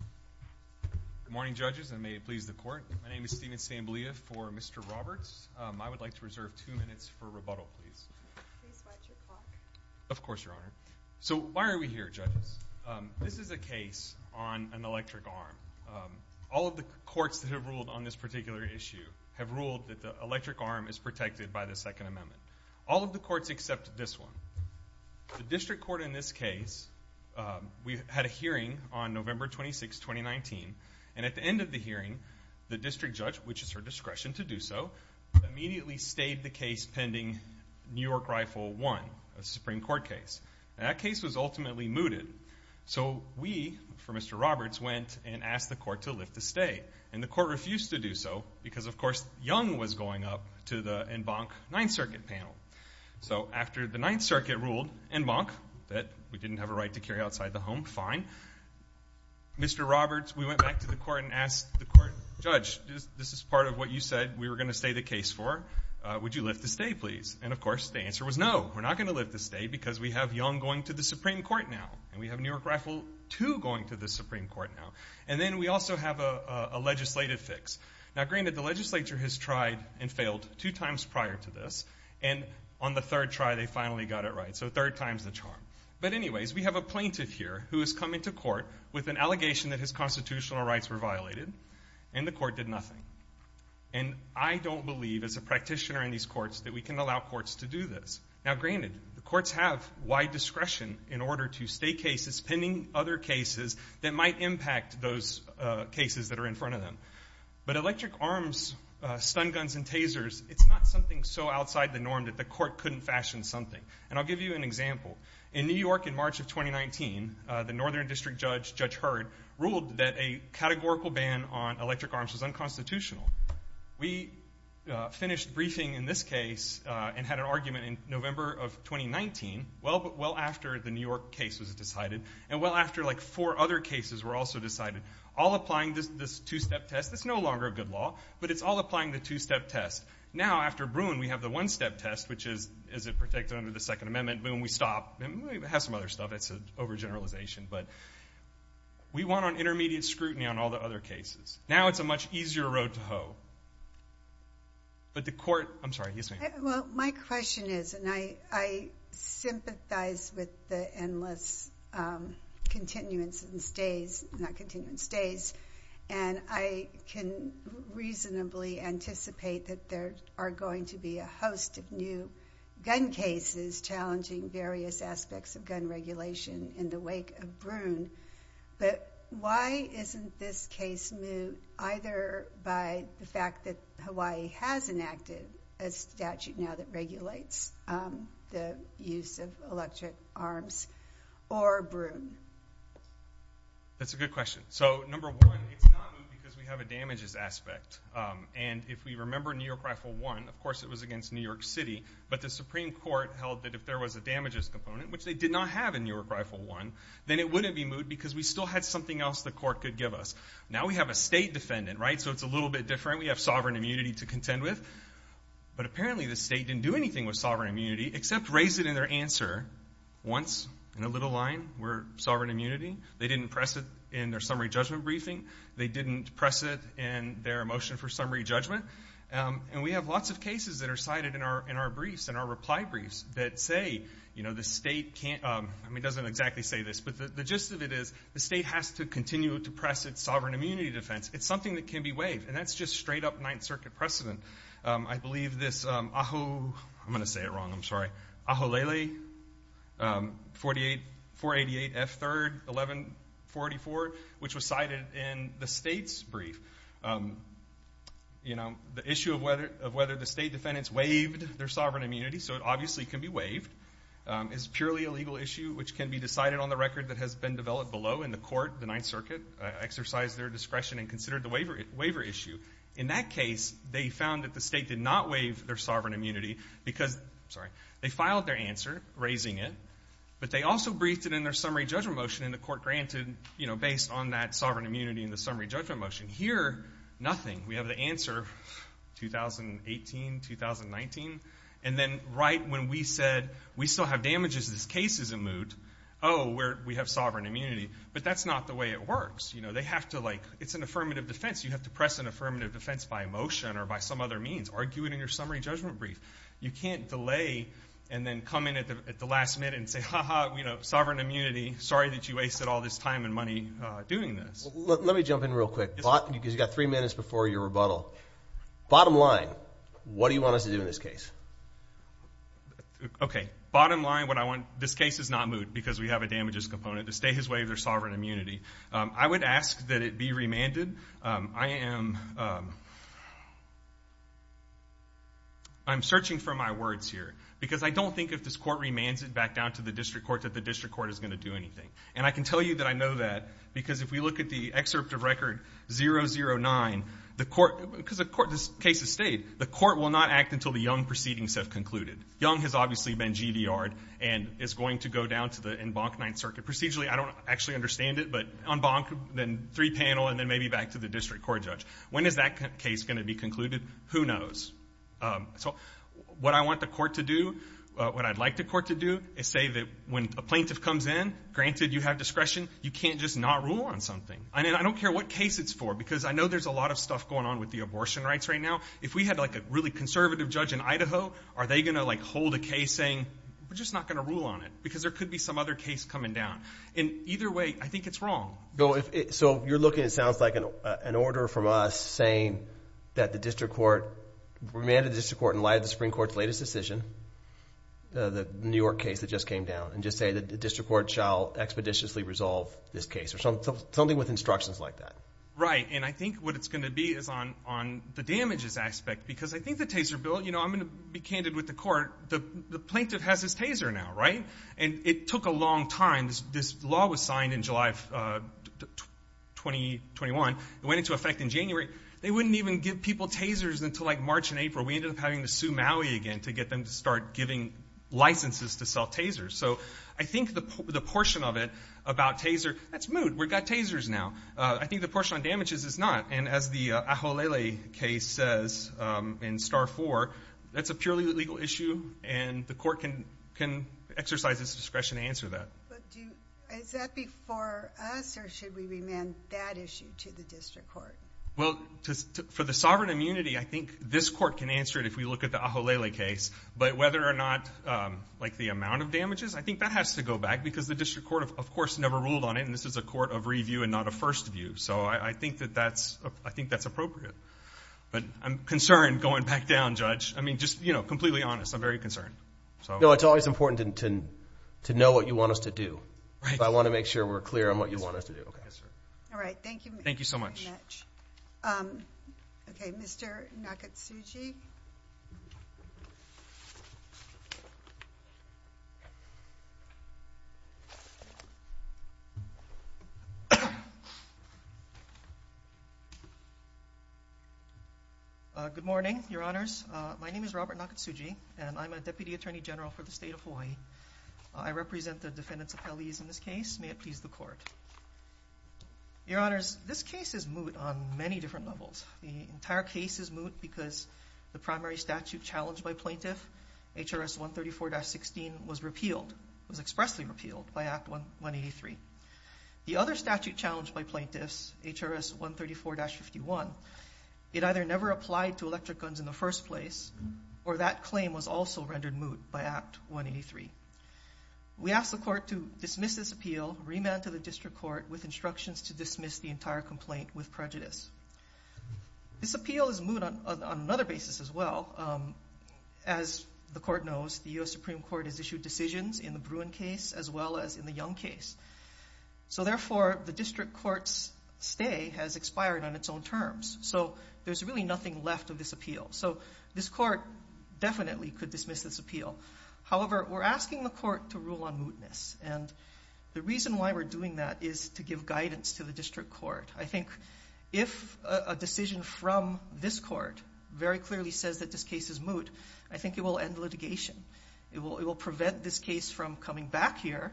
Good morning, judges, and may it please the Court. My name is Stephen Stamboulia for Mr. Roberts. I would like to reserve two minutes for rebuttal, please. Please watch your clock. Of course, Your Honor. So, why are we here, judges? This is a case on an electric arm. All of the courts that have ruled on this particular issue have ruled that the electric arm is protected by the Second Amendment. All of the courts except this one. The district court in this case, we had a hearing on November 26, 2019, and at the end of the hearing, the district judge, which is her discretion to do so, immediately stayed the case pending New York Rifle I, a Supreme Court case. That case was ultimately mooted. So, we, for Mr. Roberts, went and asked the court to lift the stay, and the court refused to do so because, of course, Young was going up to the Embank Ninth Circuit panel. So, after the Ninth Circuit ruled, and Monk, that we didn't have a right to carry outside the home, fine. Mr. Roberts, we went back to the court and asked the court, Judge, this is part of what you said we were going to stay the case for. Would you lift the stay, please? And, of course, the answer was no. We're not going to lift the stay because we have Young going to the Supreme Court now, and we have New York Rifle II going to the Supreme Court now. And then we also have a legislative fix. Now, granted, the legislature has tried and failed two times prior to this, and on the third try they finally got it right. So, third time's the charm. But, anyways, we have a plaintiff here who has come into court with an allegation that his constitutional rights were violated, and the court did nothing. And I don't believe, as a practitioner in these courts, that we can allow courts to do this. Now, granted, the courts have wide discretion in order to stay cases, pending other cases that might impact those cases that are in front of them. But electric arms, stun guns, and tasers, it's not something so outside the norm that the court couldn't fashion something. And I'll give you an example. In New York in March of 2019, the Northern District Judge, Judge Hurd, ruled that a categorical ban on electric arms was unconstitutional. We finished briefing in this case and had an argument in November of 2019, well after the New York case was decided, and well after, like, four other cases were also decided, all applying this two-step test. It's no longer a good law, but it's all applying the two-step test. Now, after Bruin, we have the one-step test, which is, is it protected under the Second Amendment? Boom, we stop. We have some other stuff. It's an overgeneralization. But we went on intermediate scrutiny on all the other cases. Now it's a much easier road to hoe. But the court, I'm sorry, yes, ma'am. Well, my question is, and I sympathize with the endless continuance and stays, not continuance, stays, and I can reasonably anticipate that there are going to be a host of new gun cases challenging various aspects of gun regulation in the wake of Bruin. But why isn't this case moved either by the fact that Hawaii has enacted a statute now that regulates the use of electric arms or Bruin? That's a good question. So, number one, it's not moved because we have a damages aspect. And if we remember New York Rifle I, of course it was against New York City, but the Supreme Court held that if there was a damages component, which they did not have in New York Rifle I, then it wouldn't be moved because we still had something else the court could give us. Now we have a state defendant, right, so it's a little bit different. We have sovereign immunity to contend with. But apparently the state didn't do anything with sovereign immunity except raise it in their answer once in a little line. We're sovereign immunity. They didn't press it in their summary judgment briefing. They didn't press it in their motion for summary judgment. And we have lots of cases that are cited in our briefs, in our reply briefs, that say, you know, the state can't, I mean, it doesn't exactly say this, but the gist of it is the state has to continue to press its sovereign immunity defense. It's something that can be waived, and that's just straight-up Ninth Circuit precedent. I believe this Ajo, I'm going to say it wrong, I'm sorry, Ajolele 488 F3rd 1144, which was cited in the state's brief, you know, the issue of whether the state defendants waived their sovereign immunity, so it obviously can be waived, is purely a legal issue, which can be decided on the record that has been developed below in the court, the Ninth Circuit, exercised their discretion and considered the waiver issue. In that case, they found that the state did not waive their sovereign immunity because, sorry, they filed their answer, raising it, but they also briefed it in their summary judgment motion, and the court granted, you know, based on that sovereign immunity and the summary judgment motion. Here, nothing. We have the answer, 2018, 2019, and then right when we said, we still have damages in this case as a moot, oh, we have sovereign immunity. But that's not the way it works. You know, they have to, like, it's an affirmative defense. You have to press an affirmative defense by motion or by some other means, argue it in your summary judgment brief. You can't delay and then come in at the last minute and say, ha-ha, you know, sovereign immunity, sorry that you wasted all this time and money doing this. Let me jump in real quick because you've got three minutes before your rebuttal. Bottom line, what do you want us to do in this case? Okay, bottom line, what I want, this case is not moot because we have a damages component. The state has waived their sovereign immunity. I would ask that it be remanded. I am searching for my words here because I don't think if this court remands it back down to the district court that the district court is going to do anything. And I can tell you that I know that because if we look at the excerpt of record 009, the court, because the case is stayed, the court will not act until the Young proceedings have concluded. Young has obviously been GVR'd and is going to go down to the Embankment 9th Circuit procedurally. I don't actually understand it, but Embankment, then three panel, and then maybe back to the district court judge. When is that case going to be concluded? Who knows? What I want the court to do, what I'd like the court to do, is say that when a plaintiff comes in, granted you have discretion, you can't just not rule on something. I don't care what case it's for because I know there's a lot of stuff going on with the abortion rights right now. If we had a really conservative judge in Idaho, are they going to hold a case saying, we're just not going to rule on it because there could be some other case coming down. Either way, I think it's wrong. So you're looking, it sounds like an order from us saying that the district court, remand the district court and lie to the Supreme Court's latest decision, the New York case that just came down, and just say that the district court shall expeditiously resolve this case, or something with instructions like that. Right, and I think what it's going to be is on the damages aspect because I think the taser bill, I'm going to be candid with the court, the plaintiff has his taser now, right? And it took a long time. This law was signed in July of 2021. It went into effect in January. They wouldn't even give people tasers until like March and April. We ended up having to sue Maui again to get them to start giving licenses to sell tasers. So I think the portion of it about taser, that's moot, we've got tasers now. I think the portion on damages is not. And as the Aholele case says in Star 4, that's a purely legal issue and the court can exercise its discretion to answer that. But is that before us, or should we remand that issue to the district court? Well, for the sovereign immunity, I think this court can answer it if we look at the Aholele case. But whether or not, like the amount of damages, I think that has to go back because the district court, of course, never ruled on it, and this is a court of review and not a first view. So I think that's appropriate. But I'm concerned going back down, Judge. I mean, just completely honest. I'm very concerned. It's always important to know what you want us to do. I want to make sure we're clear on what you want us to do. All right, thank you. Thank you so much. Okay, Mr. Nakatsugi. Good morning, Your Honors. My name is Robert Nakatsugi, and I'm a Deputy Attorney General for the State of Hawaii. I represent the defendants' appellees in this case. May it please the court. Your Honors, this case is moot on many different levels. and the defendant's attorney general are both defendants. The defendant's attorney general, the primary statute challenged by plaintiff, HRS 134-16, was repealed, was expressly repealed by Act 183. The other statute challenged by plaintiffs, HRS 134-51, it either never applied to electric guns in the first place or that claim was also rendered moot by Act 183. We ask the court to dismiss this appeal, remand to the district court with instructions to dismiss the entire complaint with prejudice. This appeal is moot on another basis as well. As the court knows, the U.S. Supreme Court has issued decisions in the Bruin case as well as in the Young case. So therefore, the district court's stay has expired on its own terms. So there's really nothing left of this appeal. So this court definitely could dismiss this appeal. However, we're asking the court to rule on mootness, and the reason why we're doing that is to give guidance to the district court. I think if a decision from this court very clearly says that this case is moot, I think it will end litigation. It will prevent this case from coming back here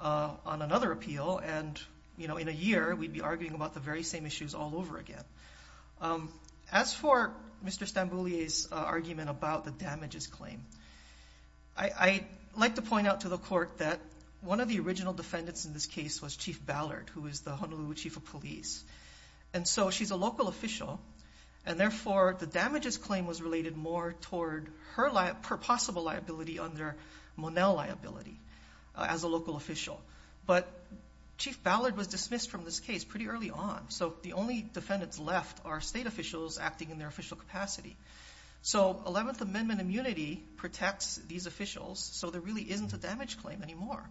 on another appeal, and, you know, in a year, we'd be arguing about the very same issues all over again. As for Mr. Stamboulier's argument about the damages claim, I'd like to point out to the court that one of the original defendants in this case was Chief Ballard, who is the Honolulu Chief of Police. And so she's a local official, and therefore, the damages claim was related more toward her possible liability under Monell liability as a local official. But Chief Ballard was dismissed from this case pretty early on, so the only defendants left are state officials acting in their official capacity. So 11th Amendment immunity protects these officials, so there really isn't a damage claim anymore.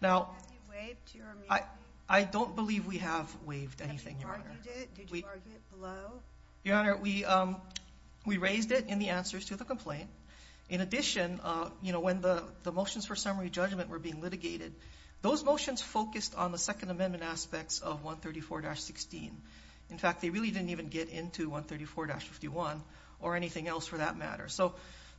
Now... I don't believe we have waived anything, Your Honor. Your Honor, we raised it in the answers to the complaint. In addition, you know, when the motions for summary judgment were being litigated, those motions focused on the Second Amendment aspects of 134-16. In fact, they really didn't even get into 134-51, or anything else for that matter. So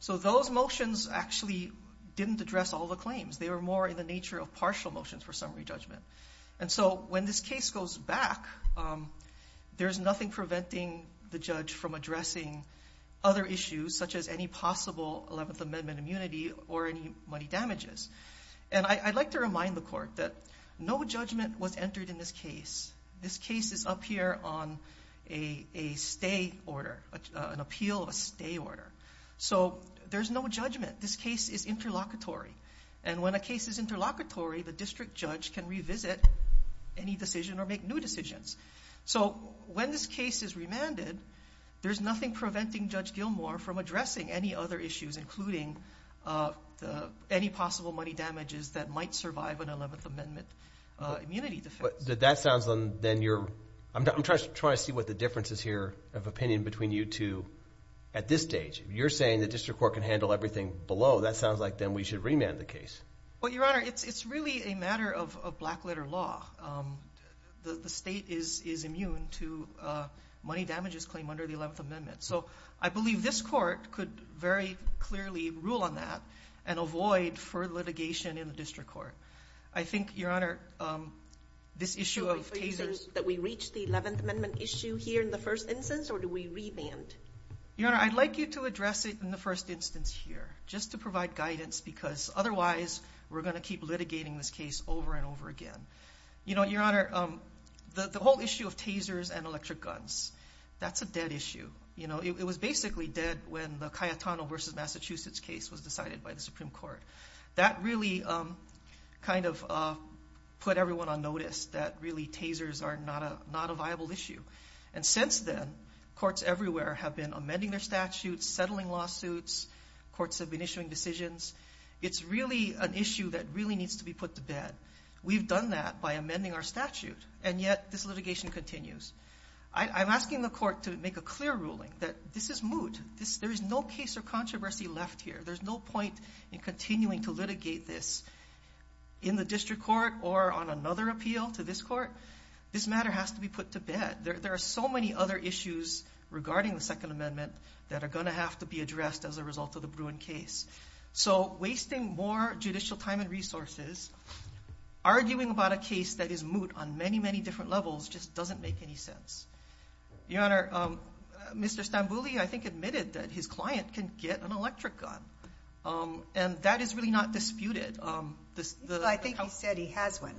those motions actually didn't address all the claims. They were more in the nature of partial motions for summary judgment. And so when this case goes back, there's nothing preventing the judge from addressing other issues, such as any possible 11th Amendment immunity or any money damages. And I'd like to remind the Court that no judgment was entered in this case. This case is up here on a stay order, an appeal of a stay order. So there's no judgment. This case is interlocutory. And when a case is interlocutory, the district judge can revisit any decision or make new decisions. So when this case is remanded, there's nothing preventing Judge Gilmour from addressing any other issues, including any possible money damages that might survive an 11th Amendment immunity defense. But that sounds... I'm trying to see what the difference is here of opinion between you two at this stage. You're saying the district court can handle everything below. That sounds like, then, we should remand the case. Well, Your Honor, it's really a matter of black-letter law. The state is immune to money damages claim under the 11th Amendment. So I believe this court could very clearly rule on that and avoid further litigation in the district court. I think, Your Honor, this issue of tasers... Are you saying that we reach the 11th Amendment issue here in the first instance, or do we remand? Your Honor, I'd like you to address it in the first instance here, just to provide guidance, because otherwise we're going to keep litigating this case over and over again. You know, Your Honor, the whole issue of tasers and electric guns, that's a dead issue. It was basically dead when the Cayetano v. Massachusetts case was decided by the Supreme Court. That really kind of put everyone on notice that really tasers are not a viable issue. And since then, courts everywhere have been amending their statutes, settling lawsuits, courts have been issuing decisions. It's really an issue that really needs to be put to bed. We've done that by amending our statute, and yet this litigation continues. I'm asking the court to make a clear ruling that this is moot. There is no case or controversy left here. There's no point in continuing to litigate this in the district court or on another appeal to this court. This matter has to be put to bed. There are so many other issues regarding the Second Amendment that are going to have to be addressed as a result of the Bruin case. So wasting more judicial time and resources, arguing about a case that is moot on many, many different levels just doesn't make any sense. Your Honor, Mr. Stambouli, I think, admitted that his client can get an electric gun, and that is really not disputed. I think he said he has one.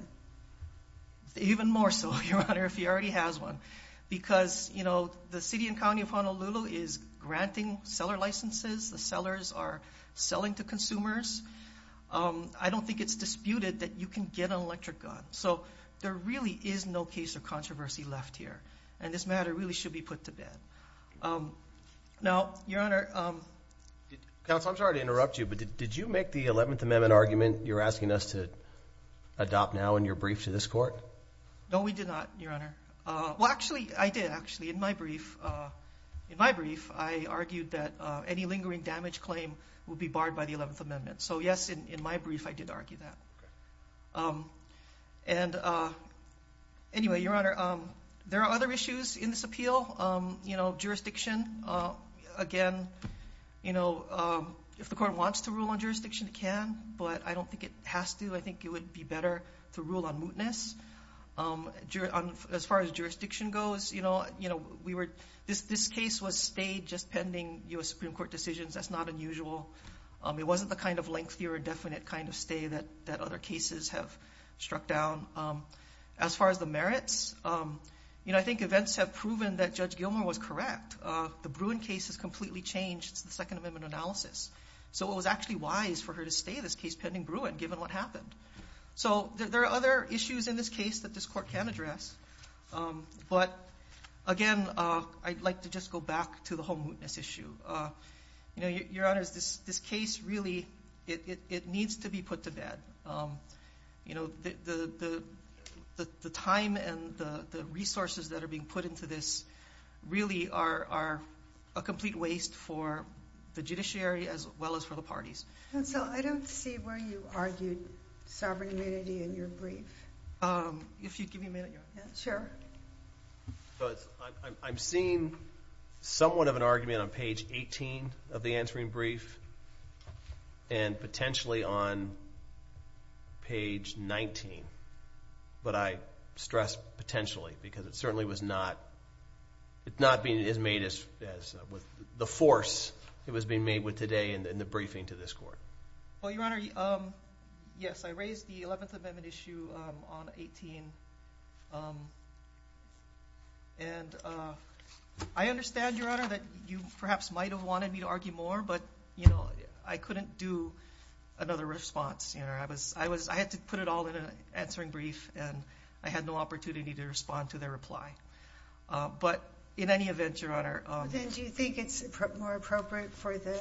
Even more so, Your Honor, if he already has one. Because, you know, the city and county of Honolulu is granting seller licenses. The sellers are selling to consumers. I don't think it's disputed that you can get an electric gun. So there really is no case or controversy left here, and this matter really should be put to bed. Now, Your Honor... Counsel, I'm sorry to interrupt you, but did you make the Eleventh Amendment argument you're asking us to adopt now in your brief to this court? No, we did not, Your Honor. Well, actually, I did, actually, in my brief. In my brief, I argued that any lingering damage claim would be barred by the Eleventh Amendment. So yes, in my brief, I did argue that. And anyway, Your Honor, there are other issues in this appeal. You know, jurisdiction. Again, you know, if the court wants to rule on jurisdiction, it can, but I don't think it has to. I think it would be better to rule on mootness. As far as jurisdiction goes, you know, this case was stayed just pending U.S. Supreme Court decisions. That's not unusual. It wasn't the kind of lengthier, definite kind of stay that other cases have struck down. As far as the merits, you know, I think events have proven that Judge Gilmour was correct. The Bruin case has completely changed since the Second Amendment analysis. So it was actually wise for her to stay this case pending Bruin, given what happened. So there are other issues in this case that this court can address. But again, I'd like to just go back to the whole mootness issue. You know, Your Honor, this case really, it needs to be put to bed. You know, the time and the resources that are being put into this really are a complete waste for the judiciary as well as for the parties. And so I don't see where you argued sovereign immunity in your brief. If you'd give me a minute, Your Honor. Sure. I'm seeing somewhat of an argument on page 18 of the answering brief and potentially on page 19. But I stress potentially because it certainly was not, it's not being as made as the force it was being made with today in the briefing to this court. Well, Your Honor, yes, I raised the Eleventh Amendment issue on 18. And I understand, Your Honor, that you perhaps might have wanted me to argue more, but, you know, I couldn't do another response. You know, I had to put it all in an answering brief and I had no opportunity to respond to their reply. But in any event, Your Honor. Then do you think it's more appropriate for the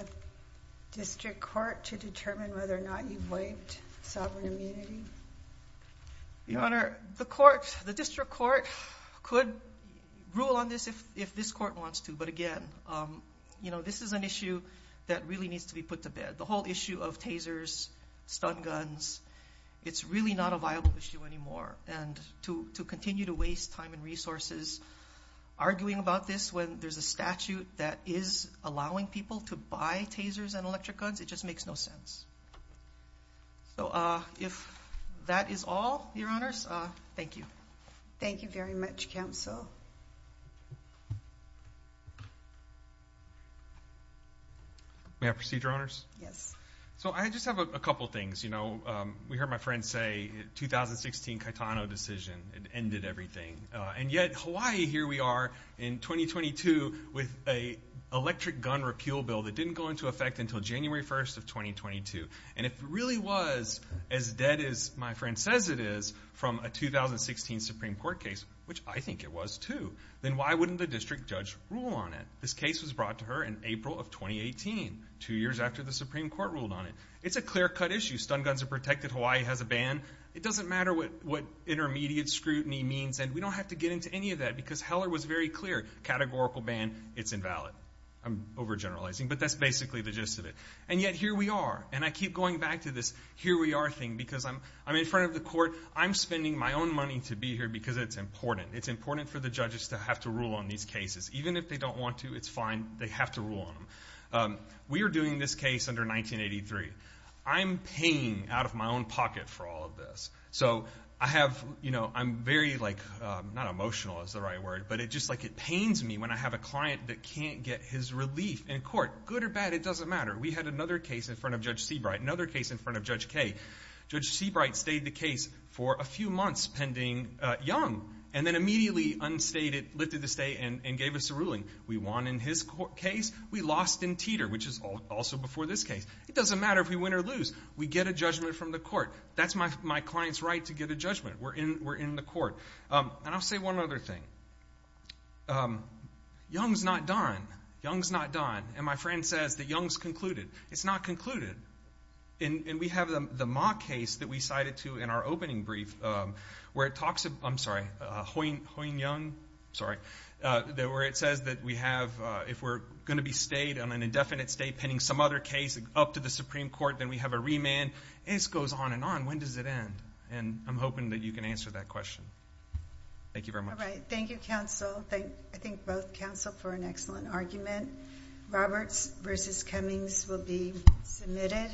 district court to determine whether or not you've waived sovereign immunity? Your Honor, the court, the district court could rule on this if this court wants to. But again, you know, this is an issue that really needs to be put to bed. The whole issue of tasers, stun guns, it's really not a viable issue anymore. And to continue to waste time and resources arguing about this when there's a statute that is allowing people to buy tasers and electric guns, it just makes no sense. So if that is all, Your Honors, thank you. Thank you very much, Counsel. May I proceed, Your Honors? Yes. So I just have a couple things. You know, we heard my friend say the 2016 Caetano decision, it ended everything. And yet Hawaii, here we are in 2022 with an electric gun repeal bill that didn't go into effect until January 1st of 2022. And if it really was as dead as my friend says it is from a 2016 Supreme Court case, which I think it was too, then why wouldn't the district judge rule on it? This case was brought to her in April of 2018, two years after the Supreme Court ruled on it. It's a clear-cut issue. Stun guns are protected. Hawaii has a ban. It doesn't matter what intermediate scrutiny means, and we don't have to get into any of that because Heller was very clear. Categorical ban, it's invalid. I'm overgeneralizing, but that's basically the gist of it. And yet here we are, and I keep going back to this here we are thing because I'm in front of the court. I'm spending my own money to be here because it's important. It's important for the judges to have to rule on these cases. Even if they don't want to, it's fine. They have to rule on them. We are doing this case under 1983. I'm paying out of my own pocket for all of this. So I have, you know, I'm very, like, not emotional is the right word, but it just, like, it pains me when I have a client that can't get his relief in court. Good or bad, it doesn't matter. We had another case in front of Judge Seabright, another case in front of Judge Kaye. Judge Seabright stayed the case for a few months pending young and then immediately unstated, lifted the stay and gave us a ruling. We won in his case. We lost in Teeter, which is also before this case. It doesn't matter if we win or lose. We get a judgment from the court. That's my client's right to get a judgment. We're in the court. And I'll say one other thing. Young's not done. Young's not done. And my friend says that Young's concluded. It's not concluded. And we have the Ma case that we cited to in our opening brief where it talks about I'm sorry, Hoying Young, sorry, where it says that we have, if we're going to be stayed on an indefinite stay pending some other case up to the Supreme Court, then we have a remand. And this goes on and on. When does it end? And I'm hoping that you can answer that question. Thank you very much. All right. Thank you, counsel. I thank both counsel for an excellent argument. Roberts v. Cummings will be submitted.